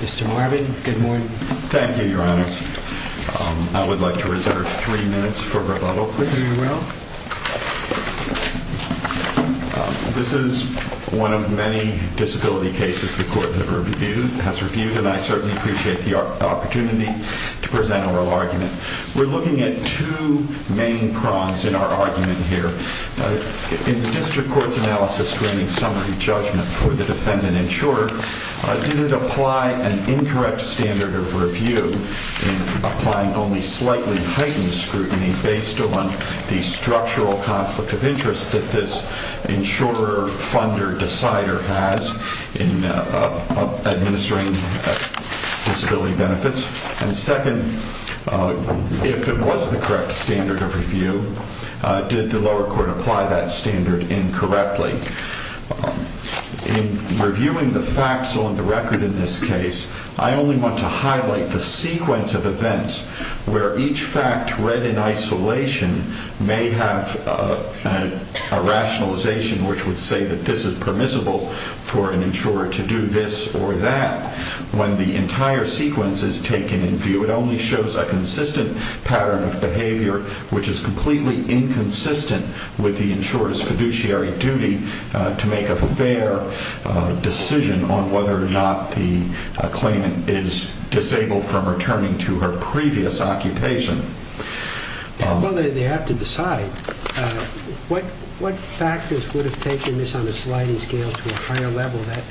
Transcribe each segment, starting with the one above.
Mr. Marvin, good morning. Thank you, Your Honors. I would like to reserve three minutes for rebuttal, please. This is one of many disability cases the Court has reviewed and I certainly appreciate the opportunity to present our argument. We're looking at two main prongs in our argument here. In the District Court's analysis screening summary judgment for the defendant insurer, did it apply an incorrect standard of review in applying only slightly heightened scrutiny based on the structural conflict of interest that this insurer, funder, decider has in administering disability benefits? And second, if it was the correct standard of review, did the lower court apply that standard incorrectly? In reviewing the facts on the record in this case, I only want to highlight the sequence of events where each fact read in isolation may have a rationalization which would say that this is permissible for an insurer to do this or that when the entire sequence is taken in view. It only shows a consistent pattern of behavior which is completely inconsistent with the insurer's fiduciary duty to make a fair decision on whether or not the claimant is disabled from returning to her previous occupation. Well, they have to decide. What factors would have taken this on a sliding scale to a higher level that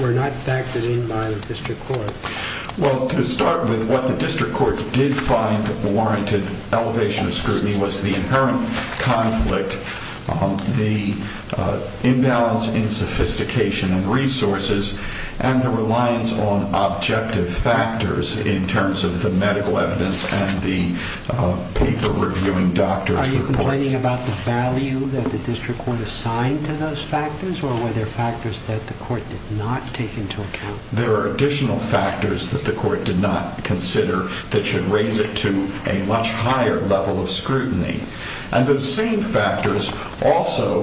were not factored in by the District Court? Well, to start with, what the District Court did find warranted elevation of scrutiny was the inherent conflict, the imbalance in sophistication and resources, and the reliance on object factors in terms of the medical evidence and the paper reviewing doctor's report. Are you complaining about the value that the District Court assigned to those factors or were there factors that the court did not take into account? There are additional factors that the court did not consider that should raise it to a much higher level of scrutiny. And those same factors also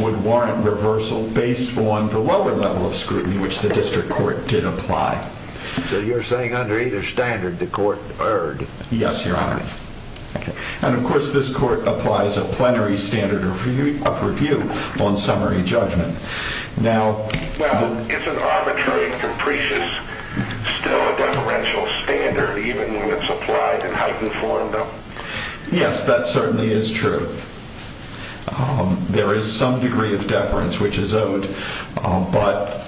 would warrant reversal based on the lower level of scrutiny which the District Court did apply. So you're saying under either standard the court erred? Yes, Your Honor. And of course this court applies a plenary standard of review on summary judgment. Now... Well, isn't arbitrary and capricious still a deferential standard even when it's applied in heightened form, though? Yes, that certainly is true. There is some degree of deference which is owed. But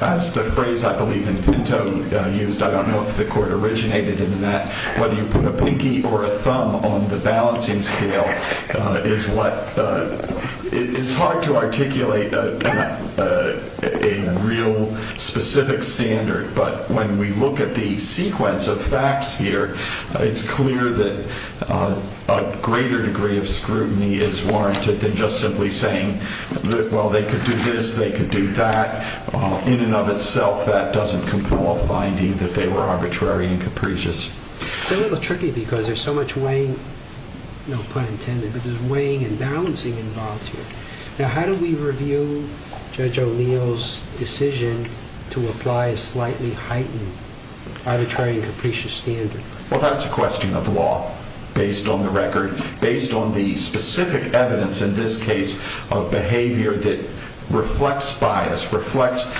as the phrase I believe in Pinto used, I don't know if the court originated in that, whether you put a pinky or a thumb on the balancing scale is what... It's hard to articulate a real specific standard. But when we look at the sequence of facts here, it's clear that a greater degree of scrutiny is warranted than just simply saying, well, they could do this, they could do that. In and of itself, that doesn't compel finding that they were arbitrary and capricious. It's a little tricky because there's so much weighing, no pun intended, but there's balancing involved here. Now, how do we review Judge O'Neill's decision to apply a slightly heightened arbitrary and capricious standard? Well, that's a question of law based on the record, based on the specific evidence in this case of behavior that reflects bias, reflects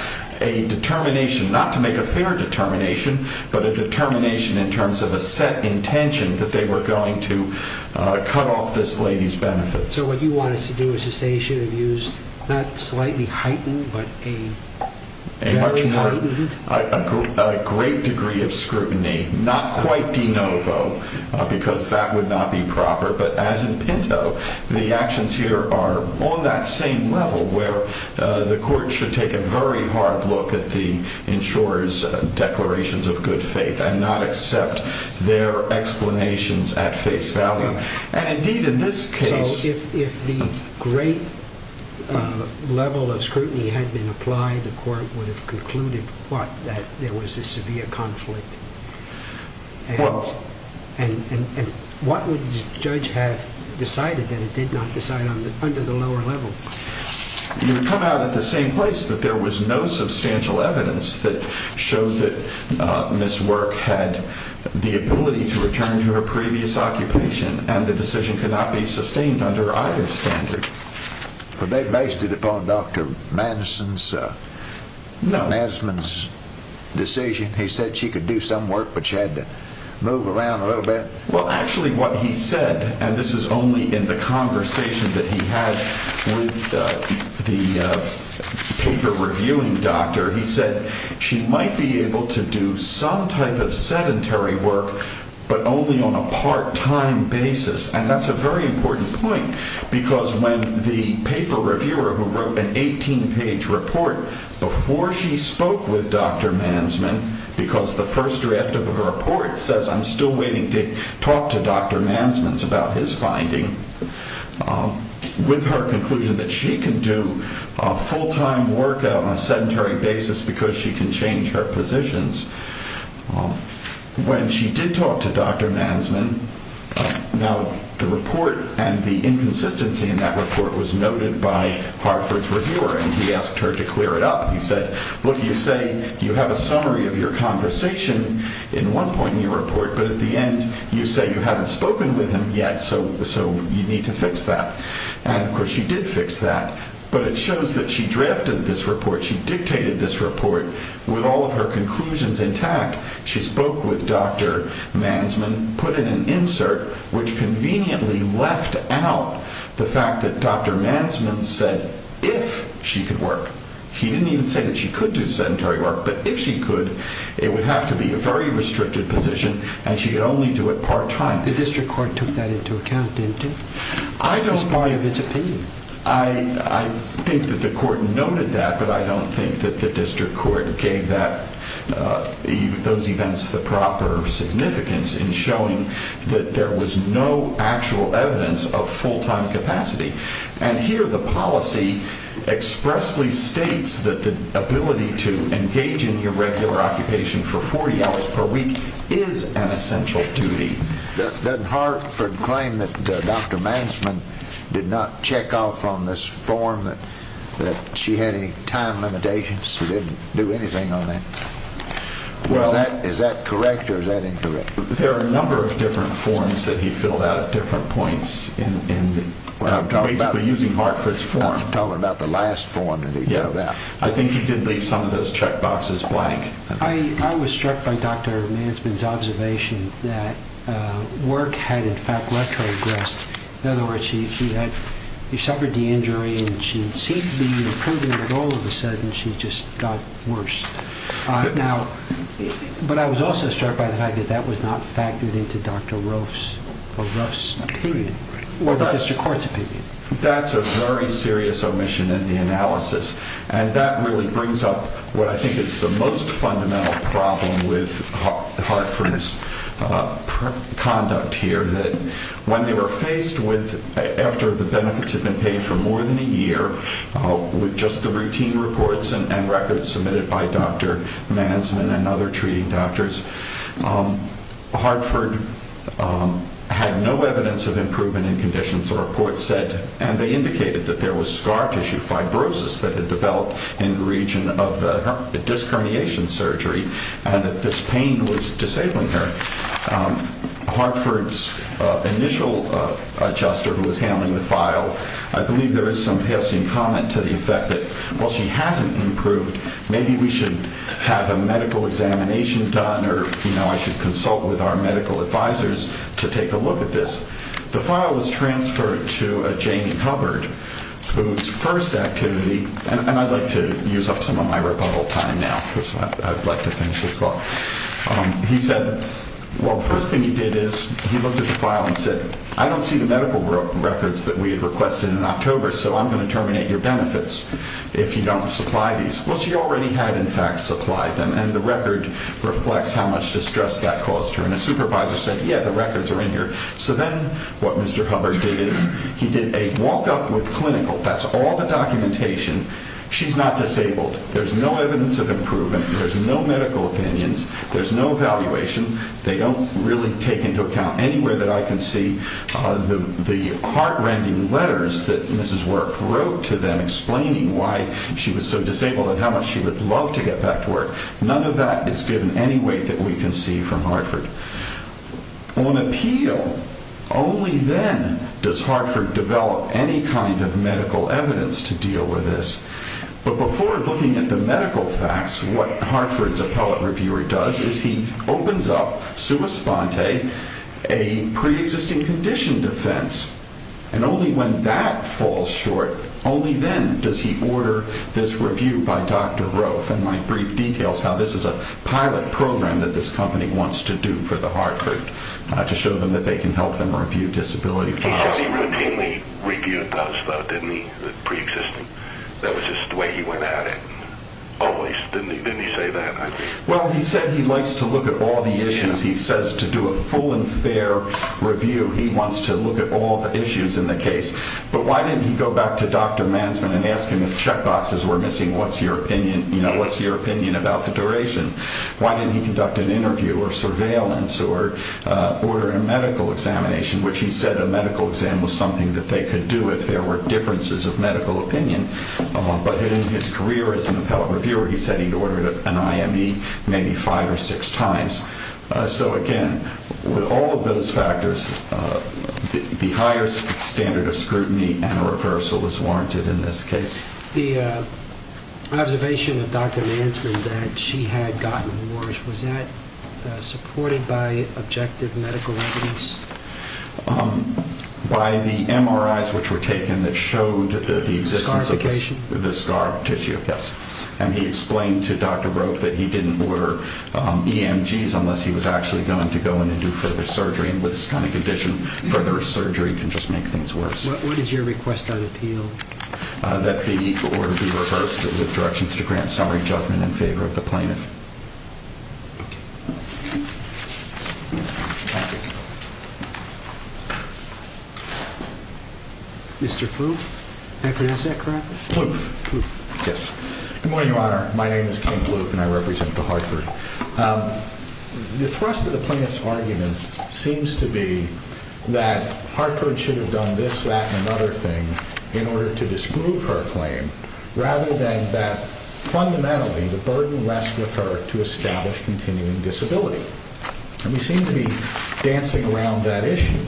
a determination, not to make a fair determination, but a determination in terms of a set intention that they were going to cut off this lady's benefits. So what you want us to do is to say she should have used, not slightly heightened, but a very lightened? A great degree of scrutiny, not quite de novo, because that would not be proper. But as in Pinto, the actions here are on that same level where the court should take a very hard look at the insurer's declarations of good faith and not accept their explanations at face value. And indeed, in this case, if the great level of scrutiny had been applied, the court would have concluded that there was a severe conflict. And what would the judge have decided that it did not decide under the lower level? You would come out at the same place that there was no substantial evidence that showed that Ms. Work had the ability to return to her previous occupation, and the decision could not be sustained under either standard. But they based it upon Dr. Madsen's decision? He said she could do some work, but she had to move around a little bit? Well, actually, what he said, and this is only in the conversation that he had with the paper-reviewing doctor, he said she might be able to do some type of sedentary work, but only on a part-time basis. And that's a very important point, because when the paper reviewer, who wrote an 18-page report before she spoke with Dr. Mansman, because the first draft of the report says, I'm still waiting to talk to Dr. Mansman about his finding, with her conclusion that she can do full-time work on a sedentary basis because she can change her positions, when she did talk to Dr. Mansman, now the report and the inconsistency in that report was noted by Hartford's reviewer, and he asked her to clear it up. He said, look, you say you have a summary of your conversation in one point in your report, you need to fix that. And of course, she did fix that, but it shows that she drafted this report, she dictated this report, with all of her conclusions intact. She spoke with Dr. Mansman, put in an insert, which conveniently left out the fact that Dr. Mansman said, if she could work. He didn't even say that she could do sedentary work, but if she could, it would have to be a very restricted position, and she could only do it part-time. The district court took that into account, didn't it? I don't buy of its opinion. I think that the court noted that, but I don't think that the district court gave those events the proper significance in showing that there was no actual evidence of full-time capacity. And here, the policy expressly states that the ability to engage in your regular occupation for 40 hours per week is an essential duty. Did Hartford claim that Dr. Mansman did not check off on this form, that she had any time limitations? She didn't do anything on that? Is that correct or is that incorrect? There are a number of different forms that he filled out at different points, basically using Hartford's form. I'm talking about the last form that he filled out. I think he did leave some of those check boxes blank. I was struck by Dr. Mansman's observation that work had, in fact, retrogressed. In other words, she suffered the injury and she seemed to be improving, but all of a sudden, she just got worse. But I was also struck by the fact that that was not factored into Dr. Ruff's opinion or the district court's opinion. That's a very serious omission in the analysis, and that really brings up what I think is the most fundamental problem with Hartford's conduct here. When they were faced with, after the benefits had been paid for more than a year, with just the routine reports and records submitted by Dr. Mansman and other treating doctors, Hartford had no evidence of improvement in conditions. The reports said, and they indicated that there was scar tissue fibrosis that had developed in the region of the disc herniation surgery, and that this pain was disabling her. Hartford's initial adjuster who was handling the file, I believe there is some halcyon comment to the effect that while she hasn't improved, maybe we should have a medical examination done, or I should consult with our medical advisors to take a look at this. The file was transferred to Jamie Hubbard, whose first activity, and I'd like to use up some of my rebuttal time now, because I'd like to finish this up. He said, well, the first thing he did is he looked at the file and said, I don't see the medical records that we had requested in October, so I'm going to terminate your benefits if you don't supply these. Well, she already had, in fact, supplied them, and the record reflects how much distress that caused her. And a supervisor said, yeah, the records are in here. So then what Mr. Hubbard did is he did a walk-up with clinical. That's all the documentation. She's not disabled. There's no evidence of improvement. There's no medical opinions. There's no evaluation. They don't really take into account anywhere that I can see the heart-rending letters that Mrs. Work wrote to them explaining why she was so disabled and how much she would love to get back to work. None of that is given any weight that we can see from Hartford. On appeal, only then does Hartford develop any kind of medical evidence to deal with this. But before looking at the medical facts, what Hartford's appellate reviewer does is he opens up, sua sponte, a pre-existing condition defense. And only when that falls short, only then does he order this review by Dr. Rofe. And my brief details how this is a pilot program that this company wants to do for the Hartford to show them that they can help them review disability files. He routinely reviewed those though, didn't he? The pre-existing. That was just the way he went at it. Always. Didn't he say that? Well, he said he likes to look at all the issues. He says to do a full and fair review, he wants to look at all the issues in the case. But why didn't he go back to Dr. Mansman and ask him if checkboxes were missing? You know, what's your opinion about the duration? Why didn't he conduct an interview or surveillance or order a medical examination? Which he said a medical exam was something that they could do if there were differences of medical opinion. But in his career as an appellate reviewer, he said he'd ordered an IME maybe five or six times. So again, with all of those factors, the higher standard of scrutiny and a reversal is warranted in this case. The observation of Dr. Mansman that she had gotten worse, was that supported by objective medical evidence? By the MRIs which were taken that showed the existence of the scar tissue, yes. And he explained to Dr. Rope that he didn't order EMGs unless he was actually going to go in and do further surgery. And with this kind of condition, further surgery can just make things worse. What is your request on appeal? That the order be reversed with directions to grant summary judgment in favor of the plaintiff. Thank you. Mr. Ploof? May I pronounce that correctly? Ploof. Yes. Good morning, Your Honor. My name is Ken Ploof and I represent the Hartford. The thrust of the plaintiff's argument seems to be that Hartford should have done this, that, and another thing in order to disprove her claim, rather than that fundamentally the burden rests with her to establish continuing disability. And we seem to be dancing around that issue,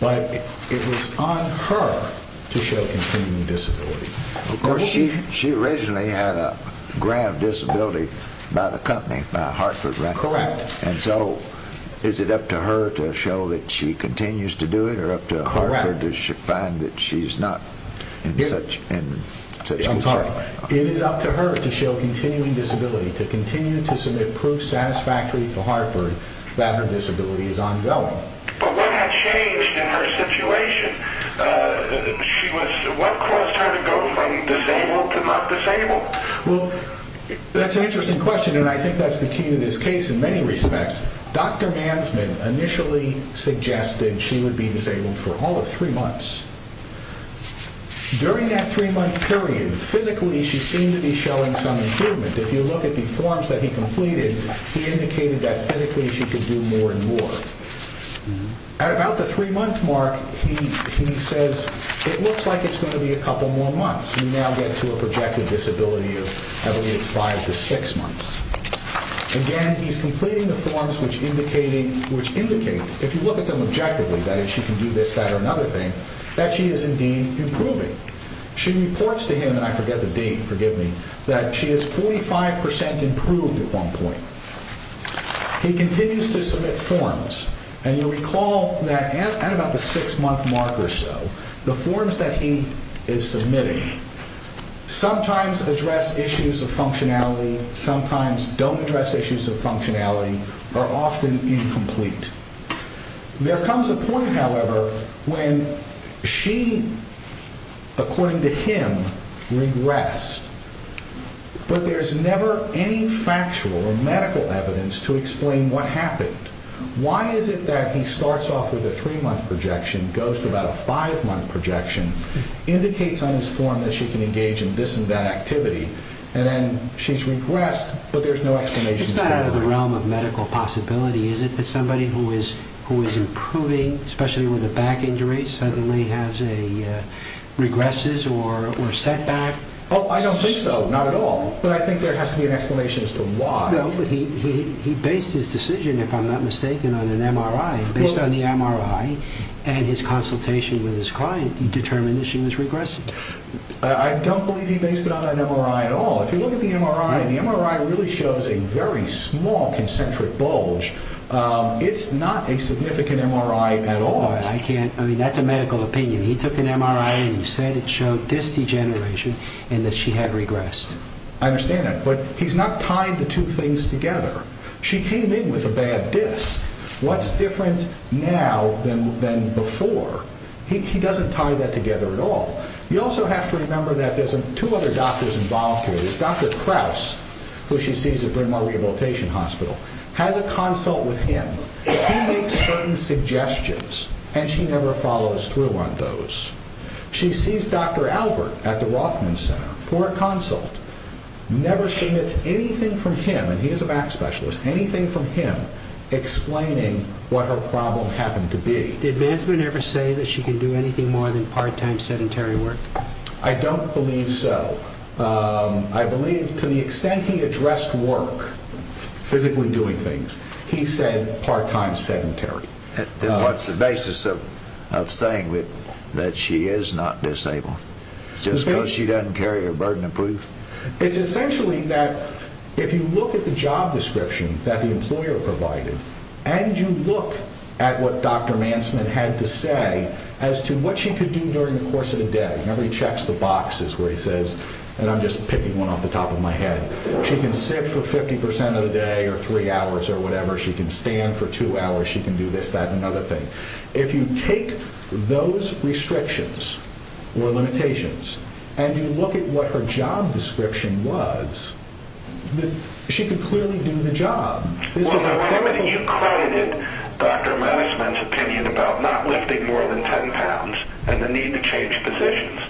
but it was on her to show continuing disability. Of course, she originally had a grant of disability by the company, by Hartford, right? Correct. And so is it up to her to show that she continues to do it or up to Hartford does she find that she's not in such a position? I'm sorry. It is up to her to show continuing disability, to continue to submit proof satisfactory to Hartford that her disability is ongoing. But what had changed in her situation? What caused her to go from disabled to not disabled? Well, that's an interesting question and I think that's the key to this case in many respects. Dr. Mansman initially suggested she would be disabled for all of three months. During that three-month period, physically she seemed to be showing some improvement. If you look at the forms that he completed, he indicated that physically she could do more and more. At about the three-month mark, he says it looks like it's going to be a couple more months. We now get to a projected disability of, I believe, it's five to six months. Again, he's completing the forms which indicate, if you look at them objectively, that she can do this, that or another thing, that she is indeed improving. She reports to him, and I forget the date, forgive me, that she is 45% improved at one point. He continues to submit forms and you'll recall that at about the six-month mark or so, the forms that he is submitting sometimes address issues of functionality, sometimes don't address issues of functionality, are often incomplete. There comes a point, however, when she, according to him, regressed. But there's never any factual or medical evidence to explain what happened. Why is it that he starts off with a three-month projection, goes to about a five-month projection, indicates on his form that she can engage in this and that activity, and then she's regressed, but there's no explanation. It's not out of the realm of medical possibility, is it, that somebody who is improving, especially with a back injury, suddenly regresses or setback? Oh, I don't think so, not at all. But I think there has to be an explanation as to why. No, but he based his decision, if I'm not mistaken, on an MRI. Based on the MRI and his consultation with his client, he determined that she was regressing. I don't believe he based it on an MRI at all. If you look at the MRI, the MRI really shows a very small concentric bulge. It's not a significant MRI at all. I can't, I mean, that's a medical opinion. He took an MRI and he said it showed disc degeneration and that she had regressed. I understand that, but he's not tying the two things together. She came in with a bad disc. What's different now than before? He doesn't tie that together at all. You also have to remember that there's two other doctors involved here. Dr. Kraus, who she sees at Bryn Mawr Rehabilitation Hospital, has a consult with him. He makes certain suggestions and she never follows through on those. She sees Dr. Albert at the Rothman Center for a consult. Never submits anything from him, and he is a back specialist, anything from him explaining what her problem happened to be. Did Manson ever say that she can do anything more than part-time sedentary work? I don't believe so. I believe to the extent he addressed work, physically doing things, he said part-time sedentary. Then what's the basis of saying that she is not disabled? Just because she doesn't carry her burden of proof? It's essentially that if you look at the job description that the employer provided and you look at what Dr. Manson had to say as to what she could do during the course of the day, remember he checks the boxes where he says, and I'm just picking one off the top of my head, she can sit for 50% of the day or three hours or whatever, she can stand for two hours, she can do this, that, another thing. If you take those restrictions or limitations and you look at what her job description was, she could clearly do the job. On the record, you credited Dr. Manson's opinion about not lifting more than 10 pounds and the need to change positions,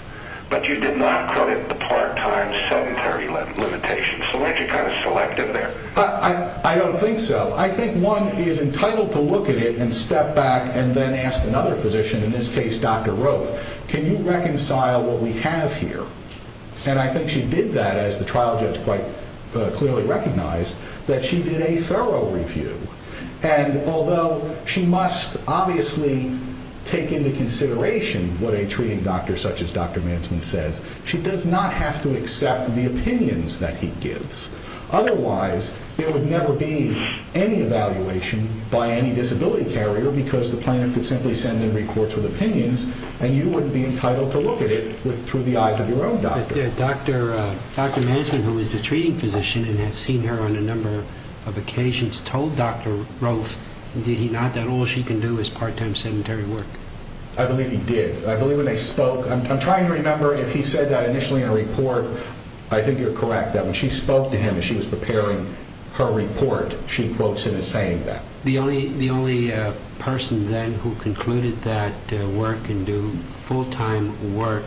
but you did not credit the part-time sedentary limitations. So why don't you kind of select it there? I don't think so. I think one is entitled to look at it and step back and then ask another physician, in this case, Dr. Roth, can you reconcile what we have here? And I think she did that as the trial judge quite clearly recognized that she did a thorough review. And although she must obviously take into consideration what a treating doctor such as Dr. Manson says, she does not have to accept the opinions that he gives. Otherwise, there would never be any evaluation by any disability carrier because the plaintiff could simply send in reports with opinions and you wouldn't be entitled to look at it through the eyes of your own doctor. Dr. Manson, who was the treating physician and has seen her on a number of occasions, told Dr. Roth, did he not, that all she can do is part-time sedentary work? I believe he did. I believe when they spoke, I'm trying to remember if he said that initially in a report. I think you're correct that when she spoke to him and she was preparing her report, she quotes him as saying that. The only person then who concluded that work can do full-time work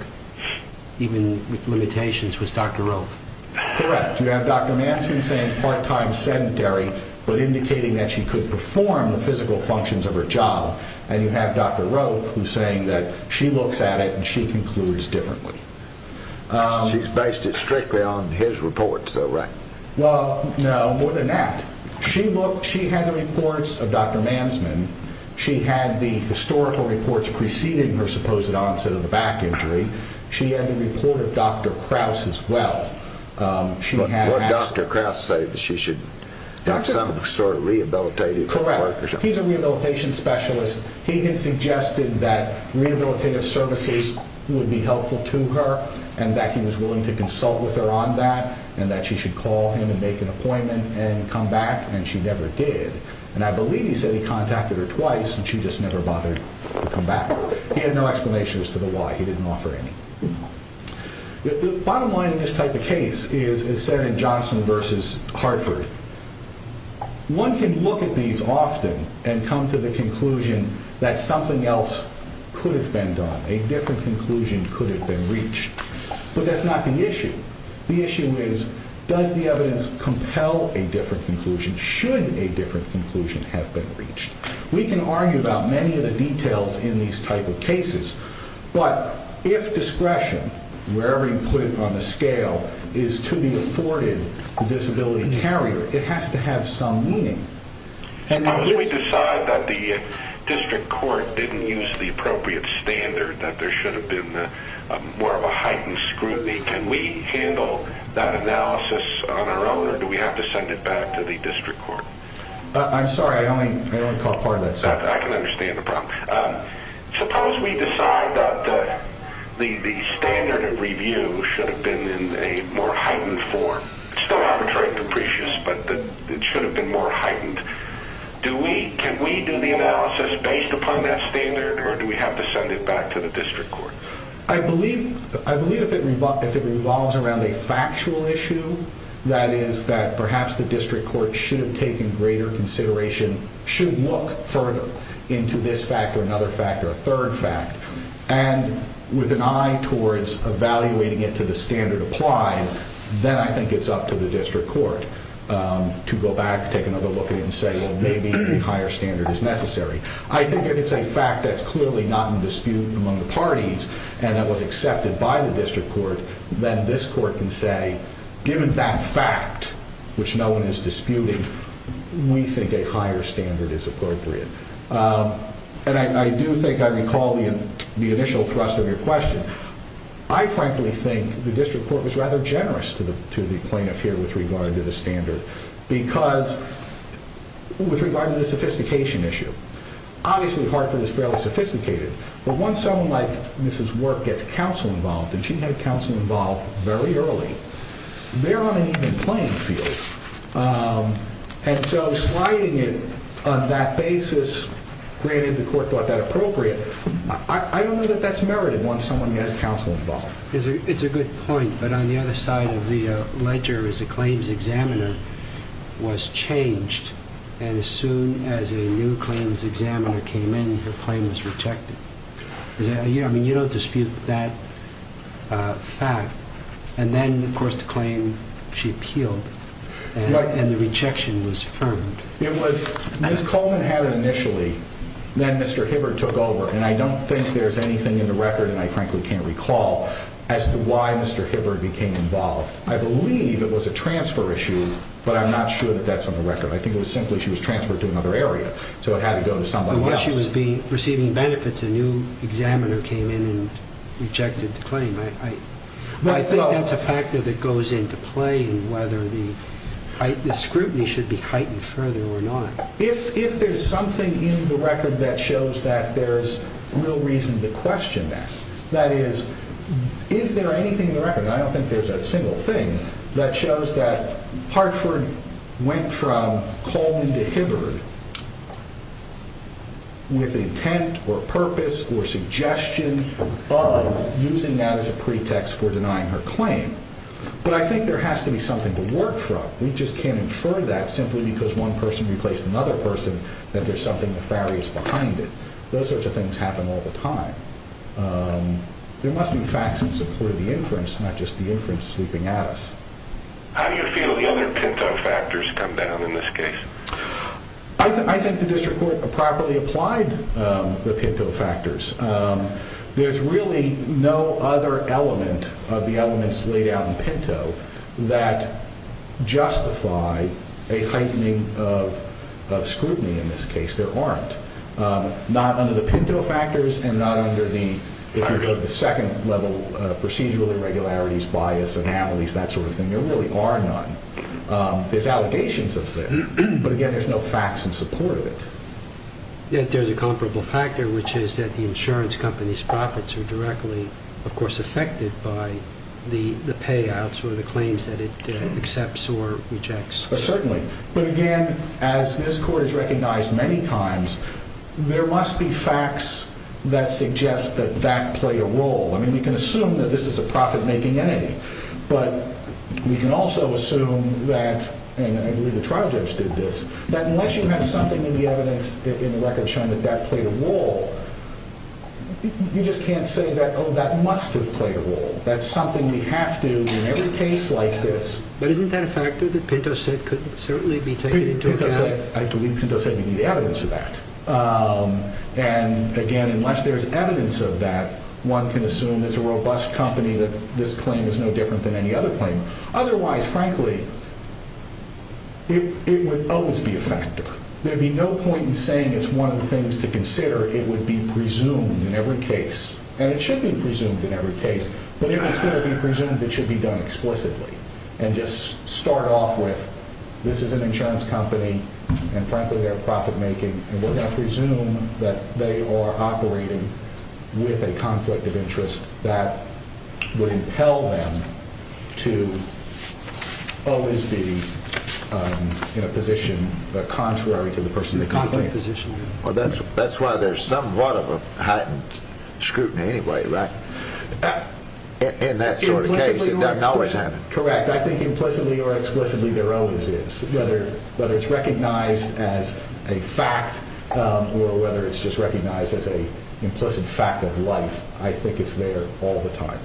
even with limitations was Dr. Roth. Correct. You have Dr. Manson saying part-time sedentary but indicating that she could perform the physical functions of her job. And you have Dr. Roth who's saying that she looks at it and she concludes differently. She's based it strictly on his report, so right. Well, no, more than that. She had the reports of Dr. Manson. She had the historical reports preceding her supposed onset of the back injury. She had the report of Dr. Krauss as well. She had asked... What Dr. Krauss say that she should have some sort of rehabilitative... Correct. He's a rehabilitation specialist. He had suggested that rehabilitative services would be helpful to her and that he was willing to consult with her on that and that she should call him and make an appointment and come back. And she never did. And I believe he said he contacted her twice and she just never bothered to come back. He had no explanation as to the why. He didn't offer any. The bottom line in this type of case is Senator Johnson versus Hartford. One can look at these often and come to the conclusion that something else could have been done. A different conclusion could have been reached. But that's not the issue. The issue is, does the evidence compel a different conclusion should a different conclusion have been reached? We can argue about many of the details in these type of cases. But if discretion, wherever you put it on the scale, is to be afforded the disability carrier, it has to have some meaning. Unless we decide that the district court didn't use the appropriate standard that there should have been more of a heightened scrutiny, can we handle that analysis on our own or do we have to send it back to the district court? I'm sorry, I only caught part of that sentence. I can understand the problem. Suppose we decide that the standard of review should have been in a more heightened form. It's still arbitrary and capricious, but it should have been more heightened. Can we do the analysis based upon that standard or do we have to send it back to the district court? I believe if it revolves around a factual issue, that is that perhaps the district court should have taken greater consideration, should look further into this fact or another fact or a third fact, and with an eye towards evaluating it to the standard applied, then I think it's up to the district court to go back, take another look at it and say, well, maybe a higher standard is necessary. I think if it's a fact that's clearly not in dispute among the parties and that was accepted by the district court, then this court can say, given that fact which no one is disputing, we think a higher standard is appropriate. And I do think I recall the initial thrust of your question. I frankly think the district court was rather generous to the plaintiff here with regard to the standard because with regard to the sophistication issue, obviously Hartford is fairly sophisticated, but once someone like Mrs. Work gets counsel involved and she had counsel involved very early, they're on an even playing field. And so sliding it on that basis, granted the court thought that appropriate, I don't know that that's merited once someone has counsel involved. It's a good point, but on the other side of the ledger is the claims examiner was changed and as soon as a new claims examiner came in, her claim was rejected. I mean, you don't dispute that fact. And then of course the claim, she appealed and the rejection was firmed. It was, Ms. Coleman had it initially, then Mr. Hibbard took over and I don't think there's anything in the record and I frankly can't recall as to why Mr. Hibbard became involved. I believe it was a transfer issue, but I'm not sure that that's on the record. I think it was simply, she was transferred to another area. So it had to go to somebody else. Unless she was receiving benefits, a new examiner came in and rejected the claim. But I think that's a factor that goes into play and whether the scrutiny should be heightened further or not. If there's something in the record that shows that there's real reason to question that, that is, is there anything in the record, I don't think there's a single thing, that shows that Hartford went from Coleman to Hibbard with intent or purpose or suggestion of using that as a pretext for denying her claim. But I think there has to be something to work from. We just can't infer that simply because one person replaced another person that there's something nefarious behind it. Those sorts of things happen all the time. There must be facts in support of the inference, not just the inference sleeping at us. How do you feel the other Pinto factors come down in this case? I think the district court properly applied the Pinto factors. There's really no other element of the elements laid out in Pinto that justify a heightening of scrutiny in this case. There aren't. Not under the Pinto factors and not under the, if you go to the second level, procedural irregularities, bias, anomalies, that sort of thing. There really are none. There's allegations of that. But again, there's no facts in support of it. Yet there's a comparable factor, which is that the insurance company's profits are directly, of course, affected by the payouts or the claims that it accepts or rejects. Certainly. But again, as this court has recognized many times, there must be facts that suggest that that played a role. I mean, we can assume that this is a profit-making entity, but we can also assume that, and I agree the trial judge did this, that unless you have something in the evidence, in the record showing that that played a role, you just can't say that, oh, that must have played a role. That's something we have to in every case like this. But isn't that a factor that Pinto said could certainly be taken into account? I believe Pinto said we need evidence of that. And again, unless there's evidence of that, one can assume there's a robust company that this claim is no different than any other claim. Otherwise, frankly, it would always be a factor. There'd be no point in saying it's one of the things to consider. It would be presumed in every case, and it should be presumed in every case. But if it's going to be presumed, it should be done explicitly and just start off with this is an insurance company, and frankly, they're profit-making, and we're going to presume that they are operating with a conflict of interest that would impel them to always be in a position, contrary to the person in the conflict position. Well, that's why there's somewhat of a heightened scrutiny anyway, right? In that sort of case, it doesn't always happen. Correct. I think implicitly or explicitly, there always is. Whether it's recognized as a fact or whether it's just recognized as a implicit fact of life, I think it's there all the time.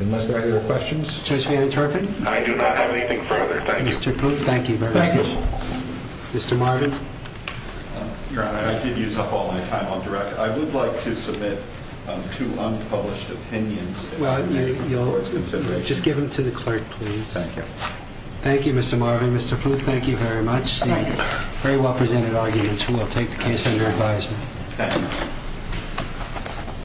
Unless there are other questions? Judge Vander Turpin? I do not have anything further. Thank you. Mr. Proof, thank you very much. Thank you. Mr. Marvin? Your Honor, I did use up all my time on direct. I would like to submit two unpublished opinions. Just give them to the clerk, please. Thank you. Thank you, Mr. Marvin. Mr. Proof, thank you very much. Very well presented arguments. We will take the case under advisement. Thank you.